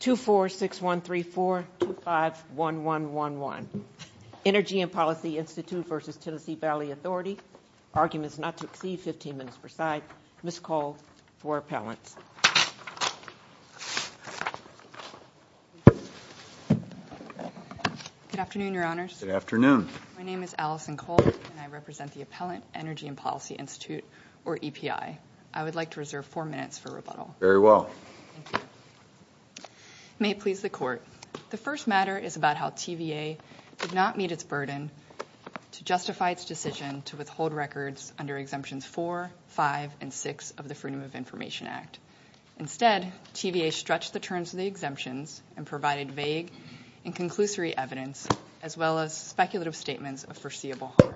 24613425111 Energy and Policy Institute versus Tennessee Valley Authority. Arguments not to exceed 15 minutes per side. Ms. Cole for Appellants. Good afternoon, Your Honors. Good afternoon. My name is Allison Cole and I represent the Appellant Energy and Policy Institute, or EPI. I would like to reserve four minutes for rebuttal. Very well. Thank you. It may please the Court. The first matter is about how TVA did not meet its burden to justify its decision to withhold records under Exemptions 4, 5, and 6 of the Freedom of Information Act. Instead, TVA stretched the terms of the exemptions and provided vague and conclusory evidence, as well as speculative statements of foreseeable harm.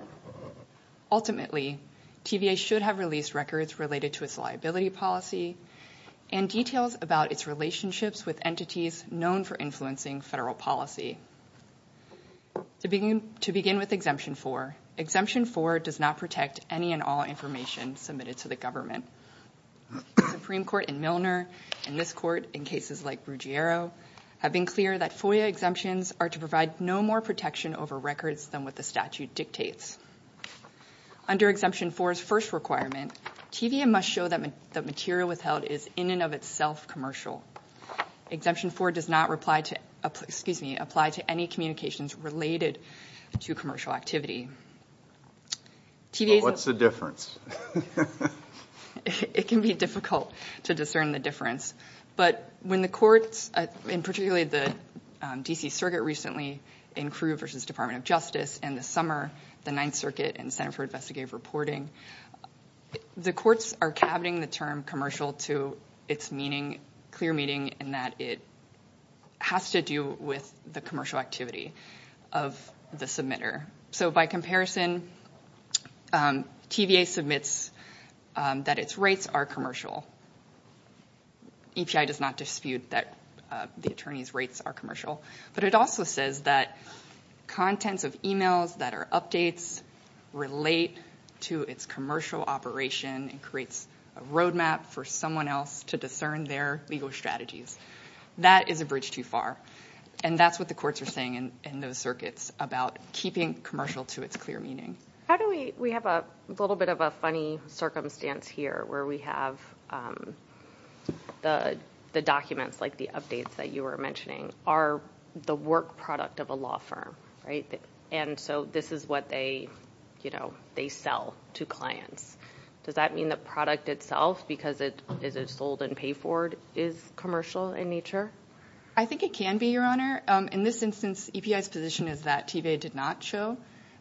Ultimately, TVA should have released records related to its liability policy and details about its relationships with entities known for influencing federal policy. To begin with Exemption 4, Exemption 4 does not protect any and all information submitted to the government. The Supreme Court in Milner and this Court in cases like Brugiero have been clear that FOIA exemptions are to provide no more protection over records than what the statute dictates. Under Exemption 4's first requirement, TVA must show that material withheld is in and of itself commercial. Exemption 4 does not apply to any communications related to commercial activity. What's the difference? It can be difficult to discern the difference. But when the courts, and particularly the D.C. Circuit recently, and Crew v. Department of Justice in the summer, the Ninth Circuit, and the Center for Investigative Reporting, the courts are cabining the term commercial to its clear meaning in that it has to do with the commercial activity of the submitter. So by comparison, TVA submits that its rates are commercial. EPI does not dispute that the attorney's rates are commercial. But it also says that contents of emails that are updates relate to its commercial operation and creates a roadmap for someone else to discern their legal strategies. That is a bridge too far. And that's what the courts are saying in those circuits about keeping commercial to its clear meaning. We have a little bit of a funny circumstance here where we have the documents, like the updates that you were mentioning, are the work product of a law firm. And so this is what they sell to clients. Does that mean the product itself, because it is sold and paid for, is commercial in nature? I think it can be, Your Honor. In this instance, EPI's position is that TVA did not show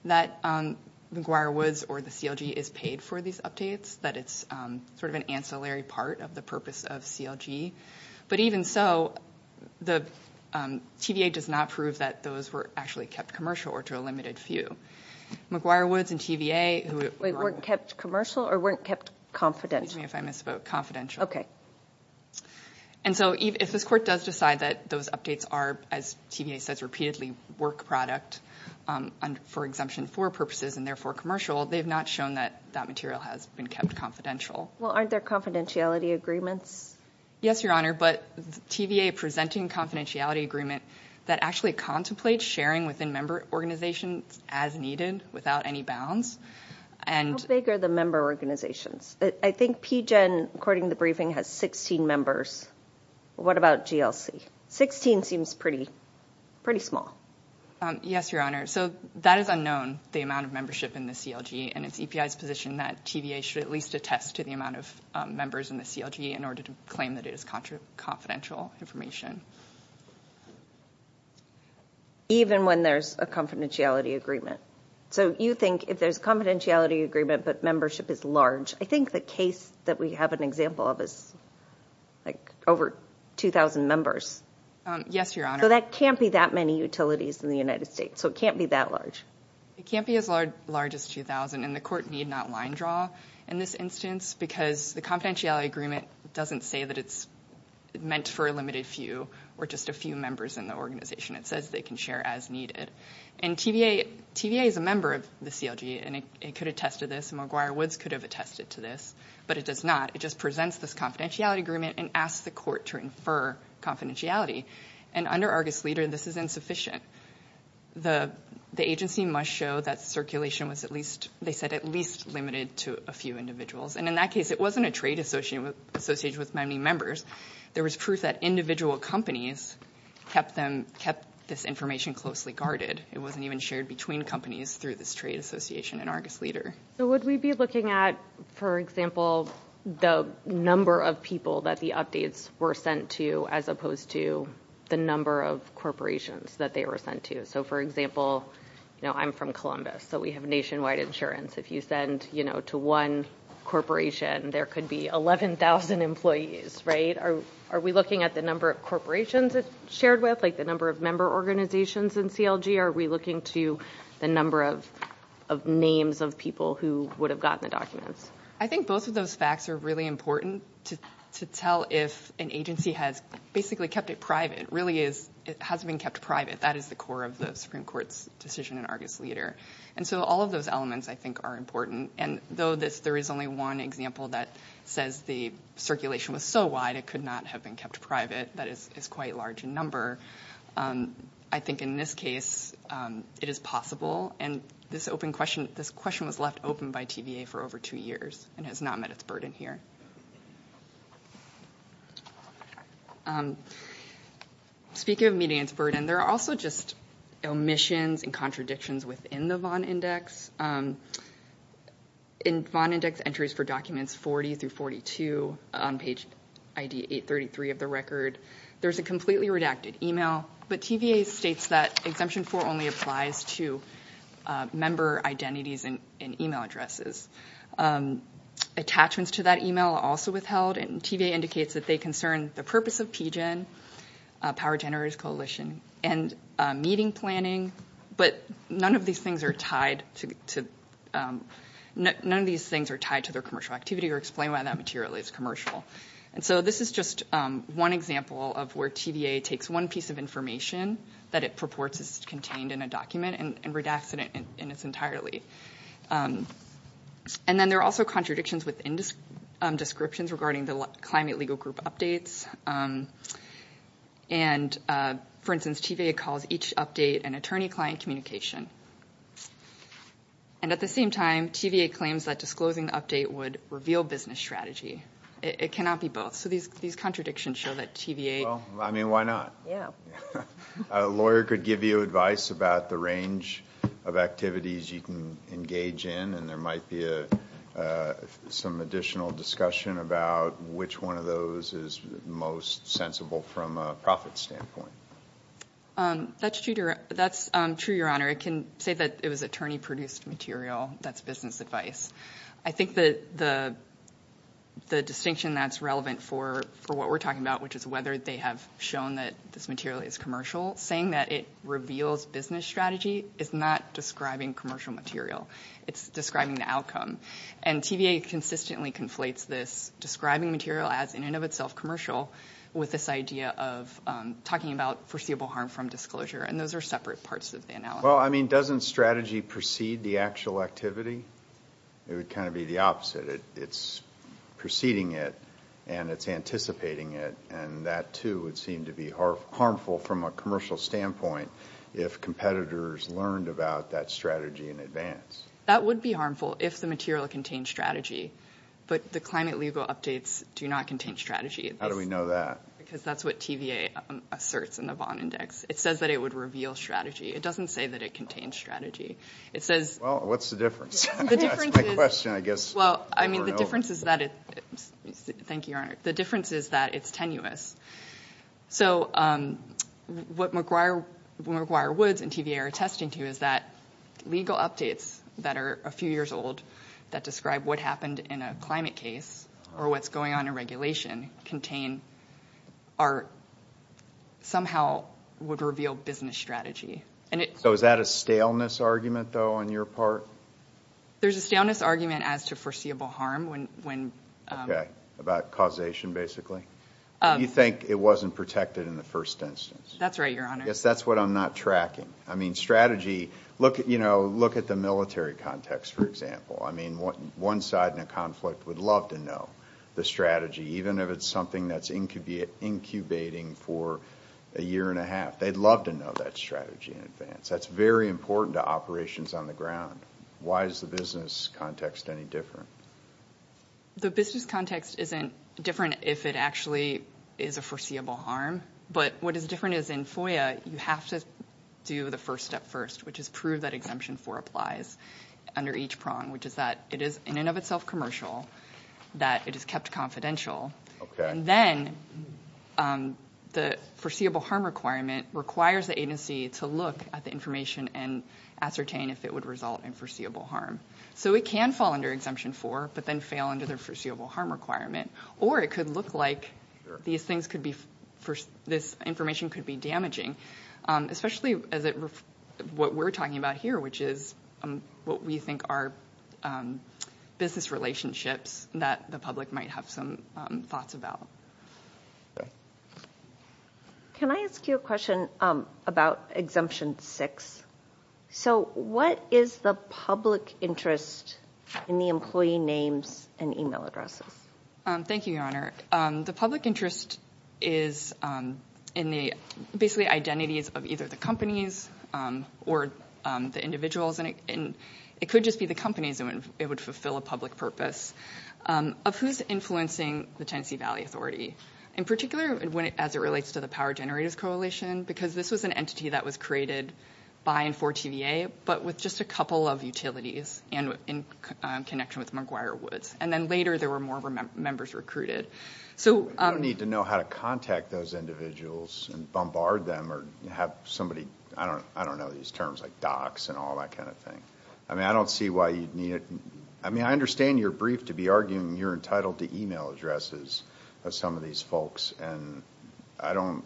that McGuire Woods or the CLG is paid for these updates, that it's sort of an ancillary part of the purpose of CLG. But even so, TVA does not prove that those were actually kept commercial or to a limited few. McGuire Woods and TVA weren't kept commercial or weren't kept confidential? Excuse me if I misspoke, confidential. Okay. And so if this court does decide that those updates are, as TVA says repeatedly, work product for exemption for purposes and therefore commercial, they've not shown that that material has been kept confidential. Well, aren't there confidentiality agreements? Yes, Your Honor, but TVA presenting confidentiality agreement that actually contemplates sharing within member organizations as needed, without any bounds. How big are the member organizations? I think PGEN, according to the briefing, has 16 members. What about GLC? Sixteen seems pretty small. Yes, Your Honor. So that is unknown, the amount of membership in the CLG, and it's EPI's position that TVA should at least attest to the amount of members in the CLG in order to claim that it is confidential information. Even when there's a confidentiality agreement. So you think if there's a confidentiality agreement but membership is large, I think the case that we have an example of is like over 2,000 members. Yes, Your Honor. So that can't be that many utilities in the United States, so it can't be that large. It can't be as large as 2,000, and the court need not line draw in this instance because the confidentiality agreement doesn't say that it's meant for a limited few or just a few members in the organization. It says they can share as needed. And TVA is a member of the CLG, and it could attest to this, and McGuire Woods could have attested to this, but it does not. It just presents this confidentiality agreement and asks the court to infer confidentiality. And under Argus Leader, this is insufficient. The agency must show that circulation was at least, they said, at least limited to a few individuals. And in that case, it wasn't a trade associated with many members. There was proof that individual companies kept this information closely guarded. It wasn't even shared between companies through this trade association in Argus Leader. So would we be looking at, for example, the number of people that the updates were sent to as opposed to the number of corporations that they were sent to? So, for example, I'm from Columbus, so we have nationwide insurance. If you send to one corporation, there could be 11,000 employees, right? Are we looking at the number of corporations it's shared with, like the number of member organizations in CLG? Are we looking to the number of names of people who would have gotten the documents? I think both of those facts are really important to tell if an agency has basically kept it private. It really is, it has been kept private. That is the core of the Supreme Court's decision in Argus Leader. And so all of those elements, I think, are important. And though there is only one example that says the circulation was so wide it could not have been kept private, that is quite large a number, I think in this case it is possible. And this question was left open by TVA for over two years and has not met its burden here. Speaking of meeting its burden, there are also just omissions and contradictions within the Vaughan Index. In Vaughan Index entries for documents 40 through 42 on page ID 833 of the record, there is a completely redacted email, but TVA states that Exemption 4 only applies to member identities and email addresses. Attachments to that email are also withheld, and TVA indicates that they concern the purpose of PGIN, Power Generators Coalition, and meeting planning, but none of these things are tied to their commercial activity or explain why that material is commercial. And so this is just one example of where TVA takes one piece of information that it purports is contained in a document and redacts it entirely. And then there are also contradictions within descriptions regarding the Climate Legal Group updates. For instance, TVA calls each update an attorney-client communication. And at the same time, TVA claims that disclosing the update would reveal business strategy. It cannot be both, so these contradictions show that TVA... Well, I mean, why not? A lawyer could give you advice about the range of activities you can engage in, and there might be some additional discussion about which one of those is most sensible from a profit standpoint. That's true, Your Honor. I can say that it was attorney-produced material. That's business advice. I think that the distinction that's relevant for what we're talking about, which is whether they have shown that this material is commercial, saying that it reveals business strategy is not describing commercial material. It's describing the outcome. And TVA consistently conflates this describing material as, in and of itself, commercial, with this idea of talking about foreseeable harm from disclosure. And those are separate parts of the analysis. Well, I mean, doesn't strategy precede the actual activity? It would kind of be the opposite. It's preceding it and it's anticipating it, and that, too, would seem to be harmful from a commercial standpoint if competitors learned about that strategy in advance. That would be harmful if the material contained strategy, but the climate legal updates do not contain strategy. How do we know that? Because that's what TVA asserts in the Vaughan Index. It says that it would reveal strategy. It doesn't say that it contains strategy. Well, what's the difference? Well, I mean, the difference is that it's tenuous. So what McGuire Woods and TVA are attesting to is that legal updates that are a few years old that describe what happened in a climate case or what's going on in regulation somehow would reveal business strategy. So is that a staleness argument, though, on your part? There's a staleness argument as to foreseeable harm. Okay, about causation, basically. You think it wasn't protected in the first instance. That's right, Your Honor. Yes, that's what I'm not tracking. I mean, strategy, look at the military context, for example. I mean, one side in a conflict would love to know the strategy, even if it's something that's incubating for a year and a half. They'd love to know that strategy in advance. That's very important to operations on the ground. Why is the business context any different? The business context isn't different if it actually is a foreseeable harm. But what is different is in FOIA, you have to do the first step first, which is prove that Exemption 4 applies under each prong, which is that it is in and of itself commercial, that it is kept confidential. Okay. And then the foreseeable harm requirement requires the agency to look at the information and ascertain if it would result in foreseeable harm. So it can fall under Exemption 4 but then fail under the foreseeable harm requirement, or it could look like this information could be damaging, especially what we're talking about here, which is what we think are business relationships that the public might have some thoughts about. Okay. Can I ask you a question about Exemption 6? So what is the public interest in the employee names and email addresses? Thank you, Your Honor. The public interest is in the, basically, identities of either the companies or the individuals, and it could just be the companies and it would fulfill a public purpose, of who's influencing the Tennessee Valley Authority, in particular as it relates to the Power Generators Coalition, because this was an entity that was created by and for TVA but with just a couple of utilities in connection with McGuire Woods. And then later there were more members recruited. You don't need to know how to contact those individuals and bombard them or have somebody... I don't know these terms, like docs and all that kind of thing. I mean, I don't see why you'd need... I mean, I understand you're briefed to be arguing you're entitled to email addresses of some of these folks, and I don't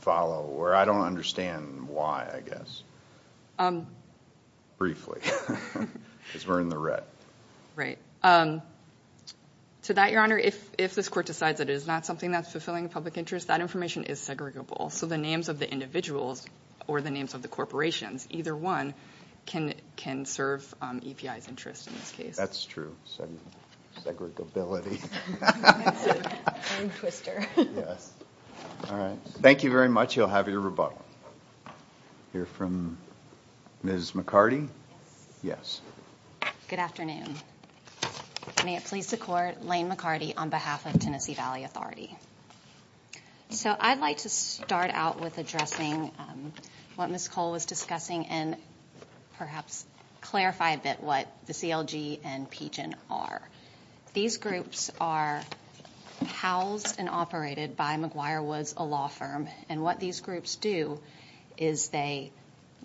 follow, or I don't understand why, I guess. Briefly, because we're in the red. Right. To that, Your Honor, if this court decides that it is not something that's fulfilling a public interest, that information is segregable. So the names of the individuals or the names of the corporations, either one, can serve EPI's interest in this case. That's true. Segregability. That's a tongue twister. Yes. All right. Thank you very much. You'll have your rebuttal. We'll hear from Ms. McCarty. Yes. Yes. Good afternoon. May it please the Court, Lane McCarty on behalf of Tennessee Valley Authority. So I'd like to start out with addressing what Ms. Cole was discussing and perhaps clarify a bit what the CLG and PGEN are. These groups are housed and operated by McGuire Woods, a law firm, and what these groups do is they,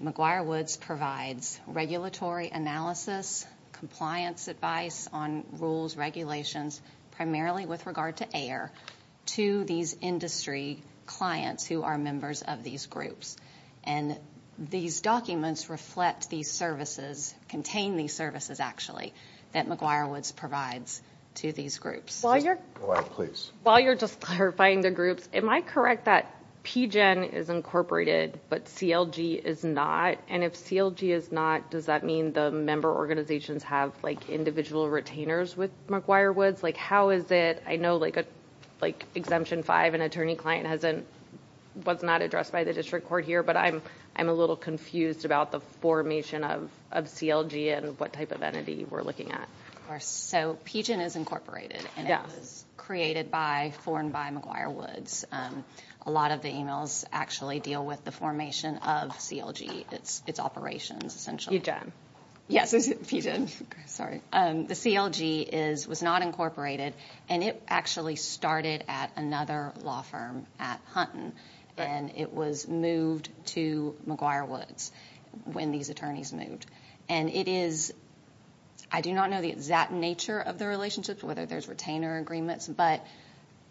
McGuire Woods provides regulatory analysis, compliance advice on rules, regulations, primarily with regard to AIR, to these industry clients who are members of these groups. And these documents reflect these services, contain these services actually, that McGuire Woods provides to these groups. Go ahead, please. While you're just clarifying the groups, am I correct that PGEN is incorporated but CLG is not? And if CLG is not, does that mean the member organizations have, like, individual retainers with McGuire Woods? Like, how is it? I know, like, Exemption 5, an attorney-client was not addressed by the district court here, but I'm a little confused about the formation of CLG and what type of entity we're looking at. Of course. So PGEN is incorporated. Yes. And it was created by, formed by McGuire Woods. A lot of the emails actually deal with the formation of CLG, its operations, essentially. PGEN. Yes, PGEN. Sorry. The CLG is, was not incorporated, and it actually started at another law firm at Hunton, and it was moved to McGuire Woods when these attorneys moved. And it is, I do not know the exact nature of the relationship, whether there's retainer agreements, but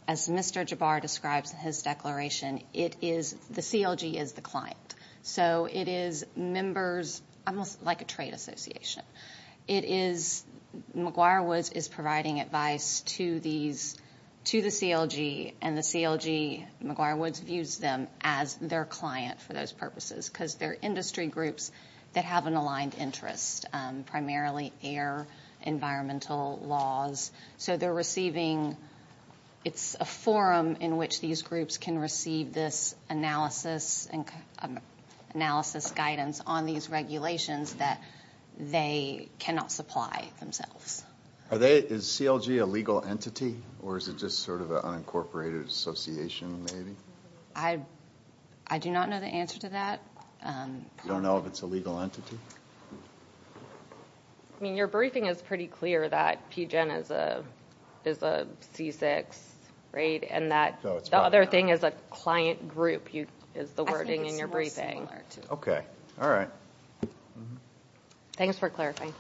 as Mr. Jabbar describes in his declaration, it is, the CLG is the client. So it is members, almost like a trade association. It is, McGuire Woods is providing advice to these, to the CLG, and the CLG, McGuire Woods views them as their client for those purposes because they're industry groups that have an aligned interest, primarily air, environmental laws. So they're receiving, it's a forum in which these groups can receive this analysis guidance on these regulations that they cannot supply themselves. Are they, is CLG a legal entity, or is it just sort of an unincorporated association maybe? I do not know the answer to that. You don't know if it's a legal entity? I mean, your briefing is pretty clear that PGEN is a C6, right, and that the other thing is a client group. The wording in your briefing. Okay, all right. Thanks for clarifying.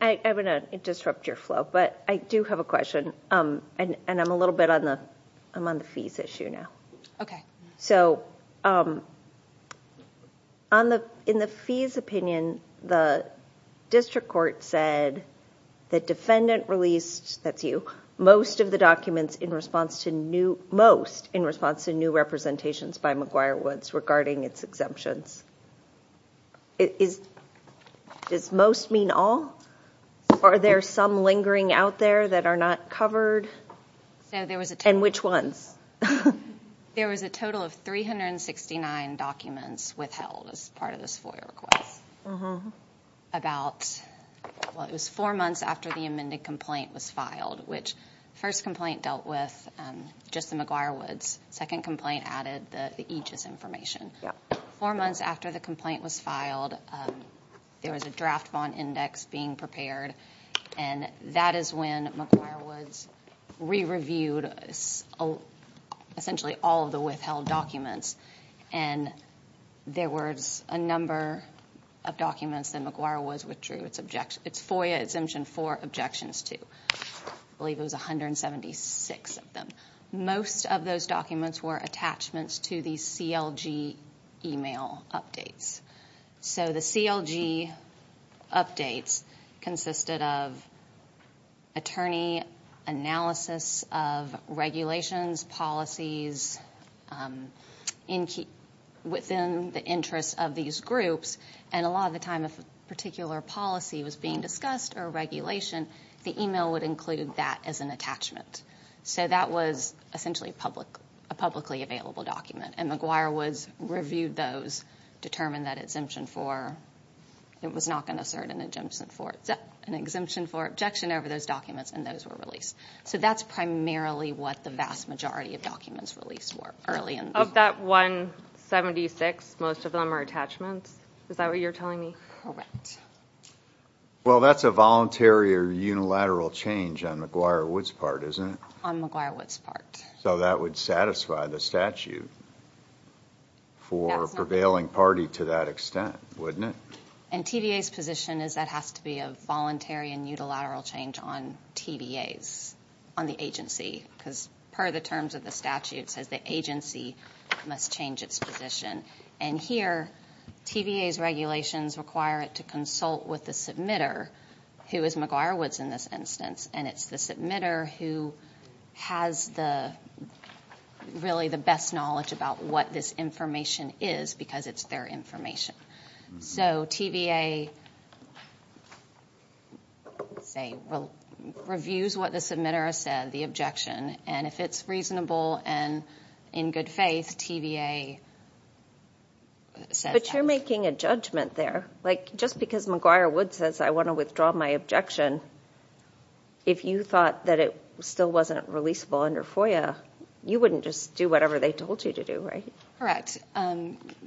I'm going to disrupt your flow, but I do have a question, and I'm a little bit on the fees issue now. Okay. So in the fees opinion, the district court said the defendant released, that's you, most of the documents in response to new, most in response to new representations by McGuire Woods regarding its exemptions. Does most mean all? Are there some lingering out there that are not covered? And which ones? There was a total of 369 documents withheld as part of this FOIA request. About, well, it was four months after the amended complaint was filed, which first complaint dealt with just the McGuire Woods. Second complaint added the EGIS information. Four months after the complaint was filed, there was a draft bond index being prepared, and that is when McGuire Woods re-reviewed essentially all of the withheld documents, and there was a number of documents that McGuire Woods withdrew its FOIA exemption for objections to. I believe it was 176 of them. Most of those documents were attachments to the CLG email updates. So the CLG updates consisted of attorney analysis of regulations, policies within the interest of these groups, and a lot of the time if a particular policy was being discussed or regulation, the email would include that as an attachment. So that was essentially a publicly available document, and McGuire Woods reviewed those, determined that it was not going to assert an exemption for objection over those documents, and those were released. So that's primarily what the vast majority of documents released were. Of that 176, most of them are attachments? Is that what you're telling me? Correct. Well, that's a voluntary or unilateral change on McGuire Woods' part, isn't it? On McGuire Woods' part. So that would satisfy the statute for a prevailing party to that extent, wouldn't it? And TVA's position is that has to be a voluntary and unilateral change on TVA's, on the agency, because per the terms of the statute it says the agency must change its position. And here TVA's regulations require it to consult with the submitter, who is McGuire Woods in this instance, and it's the submitter who has really the best knowledge about what this information is because it's their information. So TVA reviews what the submitter has said, the objection, and if it's reasonable and in good faith, TVA says that. But you're making a judgment there. Like just because McGuire Woods says I want to withdraw my objection, if you thought that it still wasn't releasable under FOIA, you wouldn't just do whatever they told you to do, right? Correct.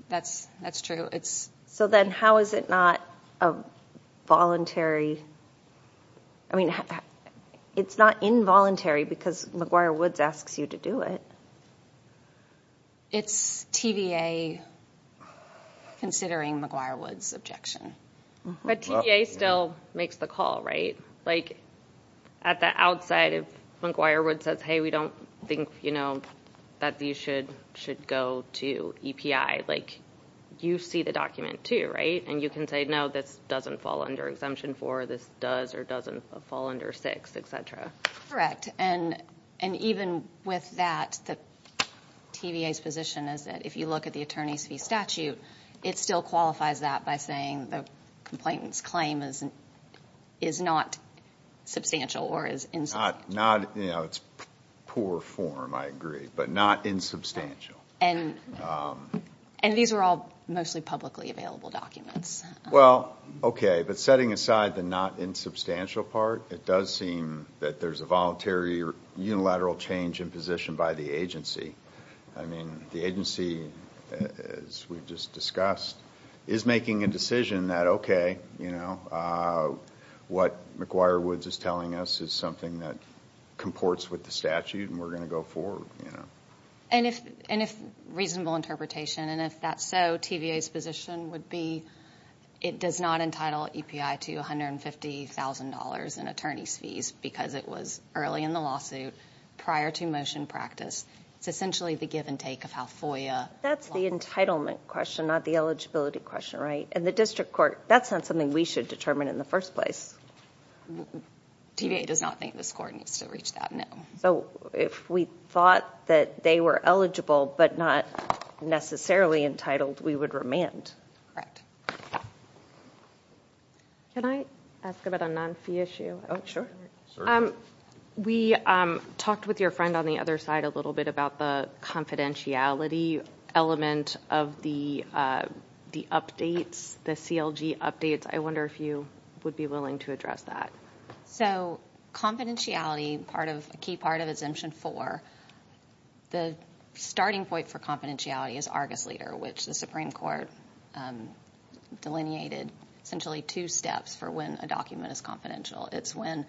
That's true. So then how is it not a voluntary? I mean, it's not involuntary because McGuire Woods asks you to do it. It's TVA considering McGuire Woods' objection. But TVA still makes the call, right? Like at the outside if McGuire Woods says, hey, we don't think that these should go to EPI, like you see the document too, right? And you can say, no, this doesn't fall under Exemption 4, this does or doesn't fall under 6, et cetera. Correct, and even with that, TVA's position is that if you look at the attorney's fee statute, it still qualifies that by saying the complainant's claim is not substantial or is insubstantial. It's poor form, I agree, but not insubstantial. And these are all mostly publicly available documents. Well, okay, but setting aside the not insubstantial part, it does seem that there's a voluntary or unilateral change in position by the agency. I mean, the agency, as we just discussed, is making a decision that, okay, what McGuire Woods is telling us is something that comports with the statute and we're going to go forward. And if reasonable interpretation, and if that's so, TVA's position would be it does not entitle EPI to $150,000 in attorney's fees because it was early in the lawsuit, prior to motion practice. It's essentially the give and take of how FOIA... That's the entitlement question, not the eligibility question, right? And the district court, that's not something we should determine in the first place. TVA does not think this court needs to reach that, no. So if we thought that they were eligible but not necessarily entitled, we would remand. Can I ask about a non-fee issue? Oh, sure. We talked with your friend on the other side a little bit about the confidentiality element of the updates, the CLG updates. I wonder if you would be willing to address that. So confidentiality, a key part of Exemption 4, the starting point for confidentiality is Argus Leader, which the Supreme Court delineated essentially two steps for when a document is confidential. It's when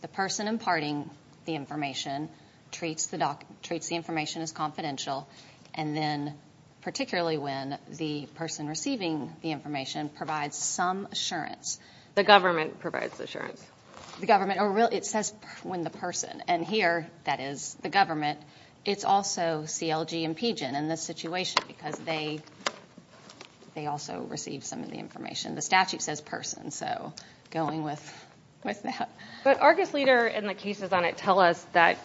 the person imparting the information treats the information as confidential, and then particularly when the person receiving the information provides some assurance. The government provides assurance. The government. It says when the person. And here, that is the government. It's also CLG and PGIN in this situation because they also receive some of the information. The statute says person, so going with that. But Argus Leader and the cases on it tell us that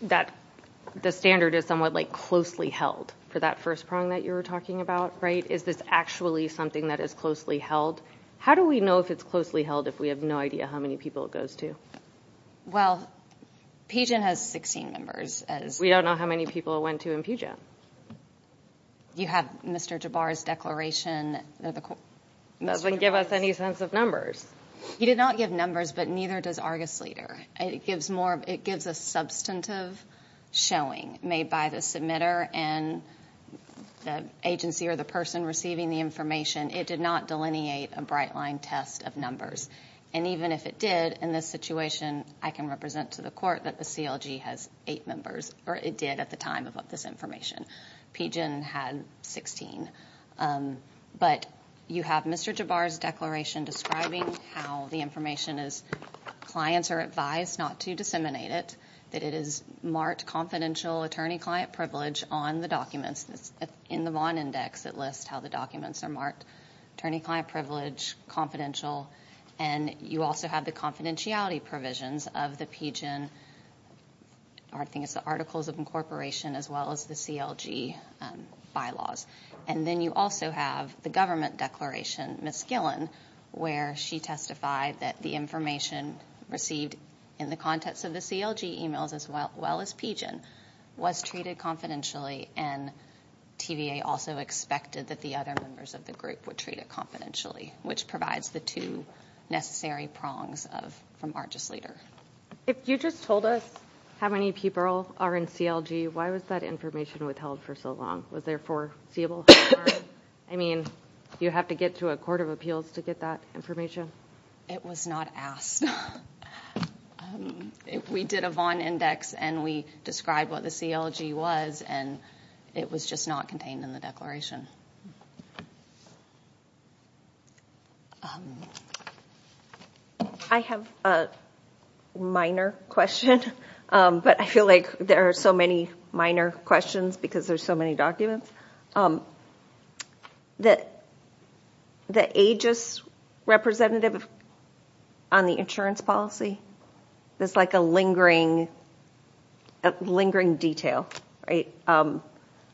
the standard is somewhat closely held for that first prong that you were talking about, right? Is this actually something that is closely held? How do we know if it's closely held if we have no idea how many people it goes to? Well, PGIN has 16 members. We don't know how many people it went to in PGIN. You have Mr. Jabbar's declaration. It doesn't give us any sense of numbers. He did not give numbers, but neither does Argus Leader. It gives a substantive showing made by the submitter and the agency or the person receiving the information. It did not delineate a bright-line test of numbers. And even if it did, in this situation, I can represent to the court that the CLG has eight members, or it did at the time of this information. PGIN had 16. But you have Mr. Jabbar's declaration describing how the information is. Clients are advised not to disseminate it, that it is marked confidential attorney-client privilege on the documents. In the Vaughn Index, it lists how the documents are marked attorney-client privilege, confidential. And you also have the confidentiality provisions of the PGIN articles of incorporation as well as the CLG bylaws. And then you also have the government declaration, Ms. Gillen, where she testified that the information received in the context of the CLG emails as well as PGIN was treated confidentially and TVA also expected that the other members of the group were treated confidentially, which provides the two necessary prongs from our just leader. If you just told us how many people are in CLG, why was that information withheld for so long? Was there foreseeable harm? I mean, do you have to get to a court of appeals to get that information? It was not asked. We did a Vaughn Index, and we described what the CLG was, and it was just not contained in the declaration. I have a minor question, but I feel like there are so many minor questions because there are so many documents. The AEGIS representative on the insurance policy, there's like a lingering detail, right?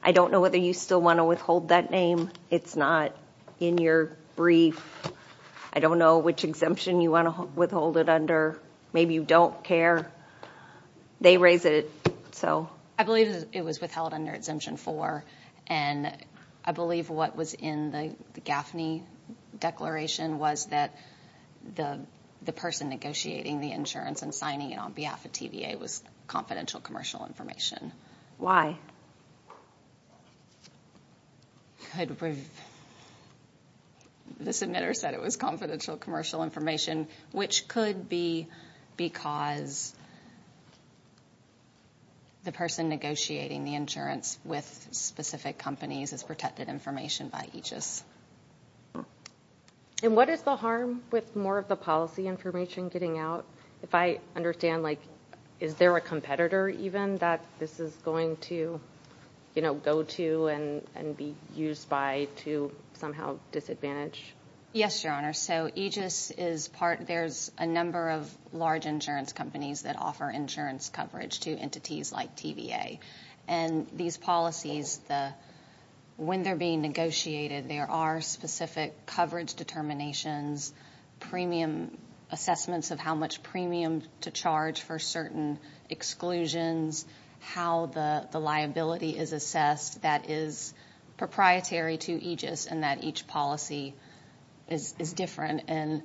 I don't know whether you still want to withhold that name. It's not in your brief. I don't know which exemption you want to withhold it under. Maybe you don't care. They raise it, so. I believe it was withheld under Exemption 4, and I believe what was in the Gaffney Declaration was that the person negotiating the insurance and signing it on behalf of TVA was confidential commercial information. Why? The submitter said it was confidential commercial information, which could be because the person negotiating the insurance with specific companies is protected information by AEGIS. What is the harm with more of the policy information getting out? If I understand, is there a competitor even that this is going to go to and be used by to somehow disadvantage? Yes, Your Honor. So AEGIS is part of a number of large insurance companies that offer insurance coverage to entities like TVA. And these policies, when they're being negotiated, there are specific coverage determinations, premium assessments of how much premium to charge for certain exclusions, how the liability is assessed that is proprietary to AEGIS and that each policy is different. And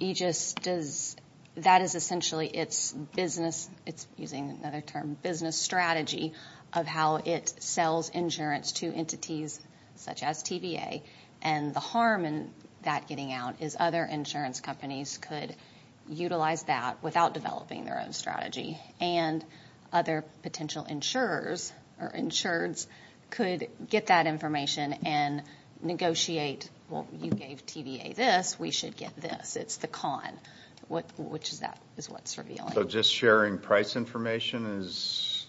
AEGIS does, that is essentially its business, it's using another term, business strategy of how it sells insurance to entities such as TVA. And the harm in that getting out is other insurance companies could utilize that without developing their own strategy. And other potential insurers or insureds could get that information and negotiate, well, you gave TVA this, we should get this. It's the con, which is what's revealing. So just sharing price information is,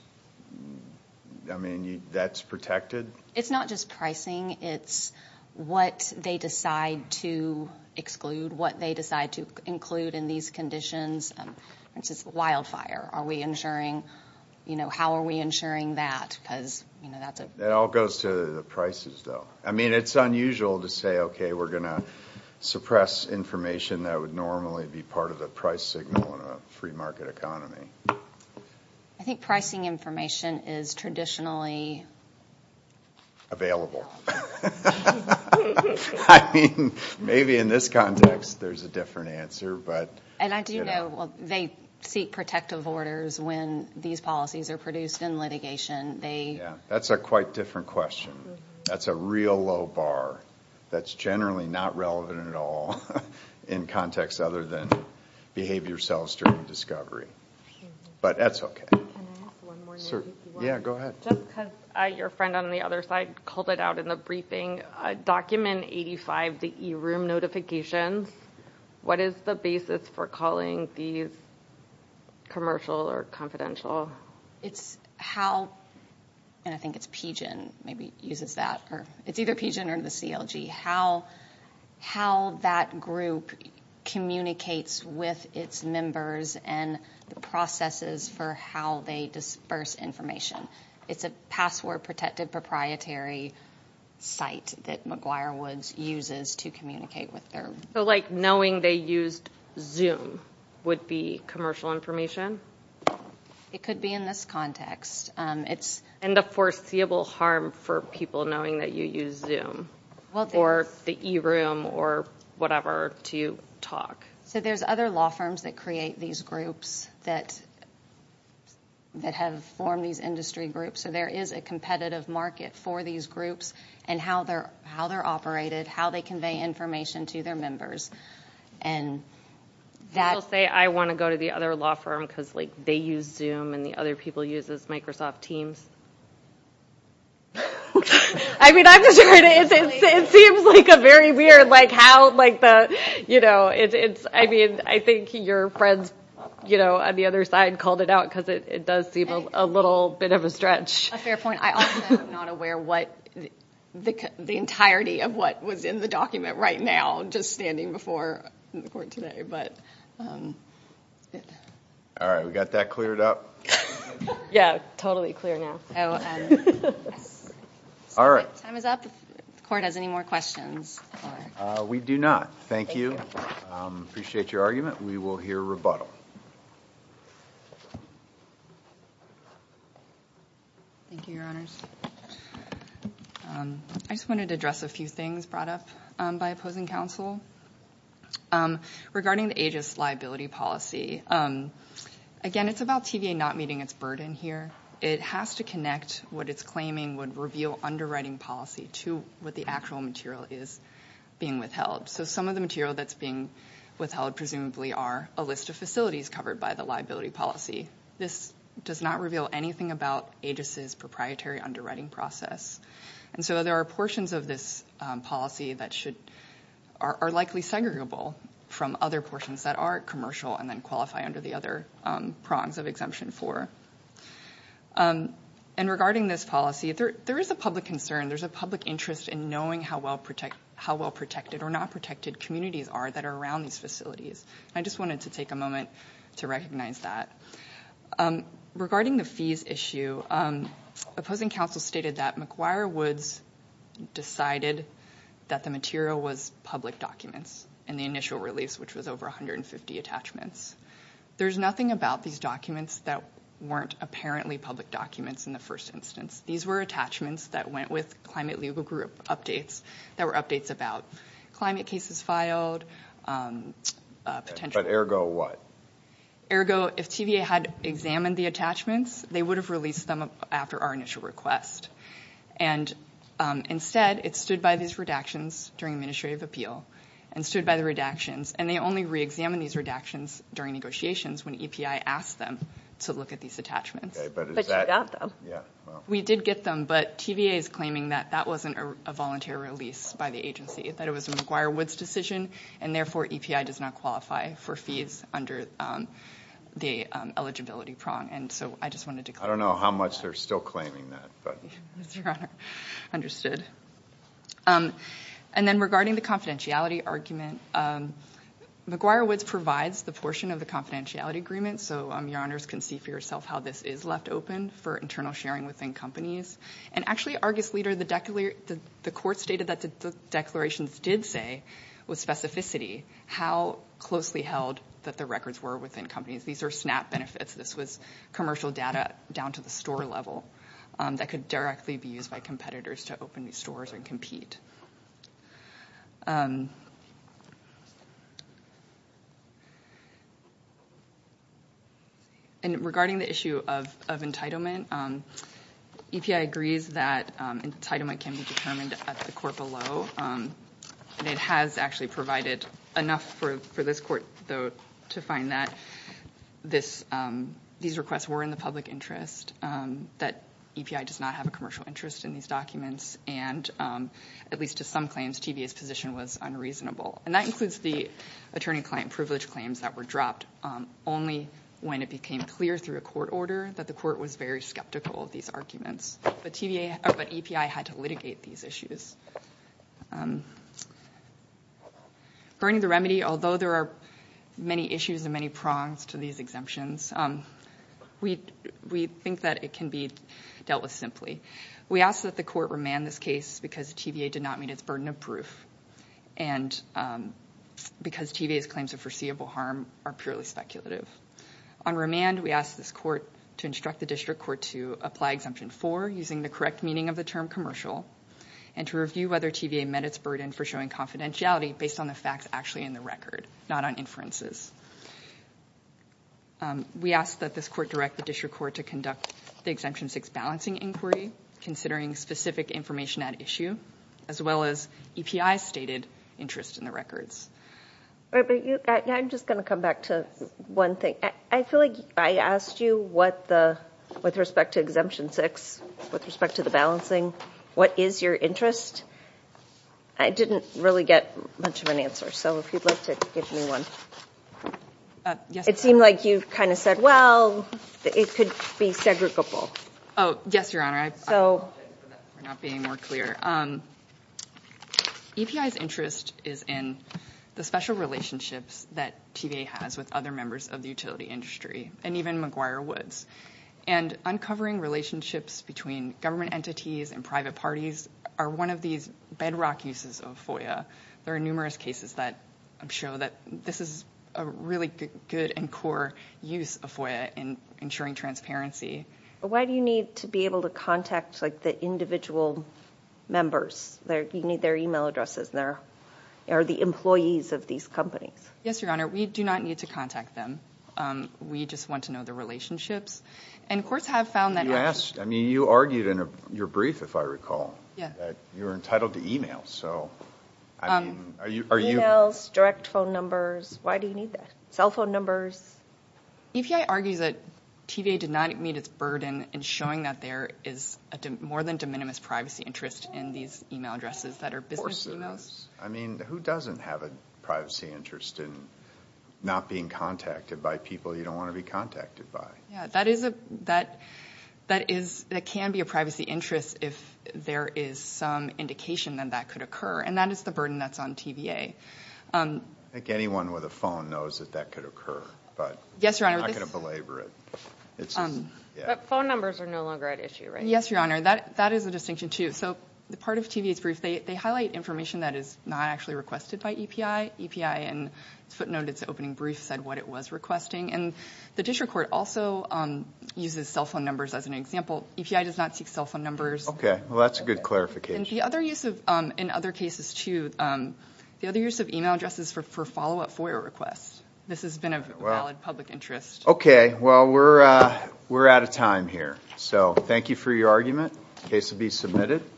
I mean, that's protected? It's not just pricing, it's what they decide to exclude, what they decide to include in these conditions. For instance, wildfire, are we insuring, you know, how are we insuring that? It all goes to the prices, though. I mean, it's unusual to say, okay, we're going to suppress information that would normally be part of the price signal in a free market economy. I think pricing information is traditionally... I mean, maybe in this context there's a different answer. And I do know they seek protective orders when these policies are produced in litigation. Yeah, that's a quite different question. That's a real low bar. That's generally not relevant at all in context other than behave yourselves during discovery. But that's okay. Can I ask one more? Yeah, go ahead. Just because your friend on the other side called it out in the briefing, document 85, the e-room notifications, what is the basis for calling these commercial or confidential? It's how... And I think it's PGIN maybe uses that. It's either PGIN or the CLG. How that group communicates with its members and the processes for how they disperse information. It's a password-protected proprietary site that McGuire Woods uses to communicate with their... So, like, knowing they used Zoom would be commercial information? It could be in this context. And the foreseeable harm for people knowing that you use Zoom or the e-room or whatever to talk. So there's other law firms that create these groups that have formed these industry groups. So there is a competitive market for these groups and how they're operated, how they convey information to their members. And that... You still say, I want to go to the other law firm because, like, they use Zoom and the other people use Microsoft Teams? I mean, I'm just trying to... It seems like a very weird, like, how, like the, you know, it's... I mean, I think your friends, you know, on the other side called it out because it does seem a little bit of a stretch. A fair point. I also am not aware what the entirety of what was in the document right now just standing before the court today, but... All right, we got that cleared up? Yeah, totally clear now. All right. Time is up. Court has any more questions? We do not. Thank you. Appreciate your argument. We will hear rebuttal. Thank you, Your Honors. I just wanted to address a few things brought up by opposing counsel regarding the AGIS liability policy. Again, it's about TVA not meeting its burden here. It has to connect what it's claiming would reveal underwriting policy to what the actual material is being withheld. So some of the material that's being withheld, presumably, are a list of facilities covered by the liability policy. This does not reveal anything about AGIS' proprietary underwriting process. And so there are portions of this policy that are likely segregable from other portions that are commercial and then qualify under the other prongs of Exemption 4. And regarding this policy, there is a public concern, there's a public interest in knowing how well-protected or not-protected communities are that are around these facilities. I just wanted to take a moment to recognize that. Regarding the fees issue, opposing counsel stated that McGuire Woods decided that the material was public documents in the initial release, which was over 150 attachments. There's nothing about these documents that weren't apparently public documents in the first instance. These were attachments that went with climate legal group updates that were updates about climate cases filed. But ergo what? Ergo, if TVA had examined the attachments, they would have released them after our initial request. And instead, it stood by these redactions during administrative appeal and stood by the redactions. And they only reexamined these redactions during negotiations when EPI asked them to look at these attachments. But you got them. We did get them, but TVA is claiming that that wasn't a volunteer release by the agency, that it was a McGuire Woods decision, and therefore EPI does not qualify for fees under the eligibility prong. And so I just wanted to clarify that. I don't know how much they're still claiming that. Understood. And then regarding the confidentiality argument, McGuire Woods provides the portion of the confidentiality agreement, so your honors can see for yourself how this is left open for internal sharing within companies. And actually, Argus Leader, the court stated that the declarations did say with specificity how closely held that the records were within companies. These are SNAP benefits. This was commercial data down to the store level that could directly be used by competitors to open these stores and compete. And regarding the issue of entitlement, EPI agrees that entitlement can be determined at the court below, and it has actually provided enough for this court, though, to find that these requests were in the public interest, that EPI does not have a commercial interest in these documents, and at least to some claims, TVA's position was unreasonable. And that includes the attorney-client privilege claims that were dropped only when it became clear through a court order that the court was very skeptical of these arguments, but EPI had to litigate these issues. Regarding the remedy, although there are many issues and many prongs to these exemptions, we think that it can be dealt with simply. We ask that the court remand this case because TVA did not meet its burden of proof and because TVA's claims of foreseeable harm are purely speculative. On remand, we ask this court to instruct the district court to apply Exemption 4 using the correct meaning of the term commercial and to review whether TVA met its burden for showing confidentiality based on the facts actually in the record, not on inferences. We ask that this court direct the district court to conduct the Exemption 6 balancing inquiry, considering specific information at issue, as well as EPI's stated interest in the records. I'm just going to come back to one thing. I feel like I asked you with respect to Exemption 6, with respect to the balancing, what is your interest. I didn't really get much of an answer, so if you'd like to give me one. It seemed like you kind of said, well, it could be segregable. Yes, Your Honor. I apologize for that for not being more clear. EPI's interest is in the special relationships that TVA has with other members of the utility industry and even McGuire Woods. Uncovering relationships between government entities and private parties are one of these bedrock uses of FOIA. There are numerous cases that show that this is a really good and core use of FOIA in ensuring transparency. Why do you need to be able to contact the individual members? You need their email addresses. They're the employees of these companies. Yes, Your Honor. We do not need to contact them. We just want to know the relationships. And courts have found that actually. You argued in your brief, if I recall, that you're entitled to email. Emails, direct phone numbers. Why do you need that? Cell phone numbers. EPI argues that TVA did not meet its burden in showing that there is more than de minimis privacy interest in these email addresses that are business emails. Of course it is. I mean, who doesn't have a privacy interest in not being contacted by people you don't want to be contacted by? That can be a privacy interest if there is some indication that that could occur. And that is the burden that's on TVA. I think anyone with a phone knows that that could occur. But I'm not going to belabor it. But phone numbers are no longer at issue, right? Yes, Your Honor. That is a distinction, too. So part of TVA's brief, they highlight information that is not actually requested by EPI. EPI in its footnote, its opening brief, said what it was requesting. And the district court also uses cell phone numbers as an example. EPI does not seek cell phone numbers. Okay. Well, that's a good clarification. And the other use in other cases, too, the other use of email addresses for follow-up FOIA requests. This has been a valid public interest. Okay. Well, we're out of time here. So thank you for your argument. The case will be submitted.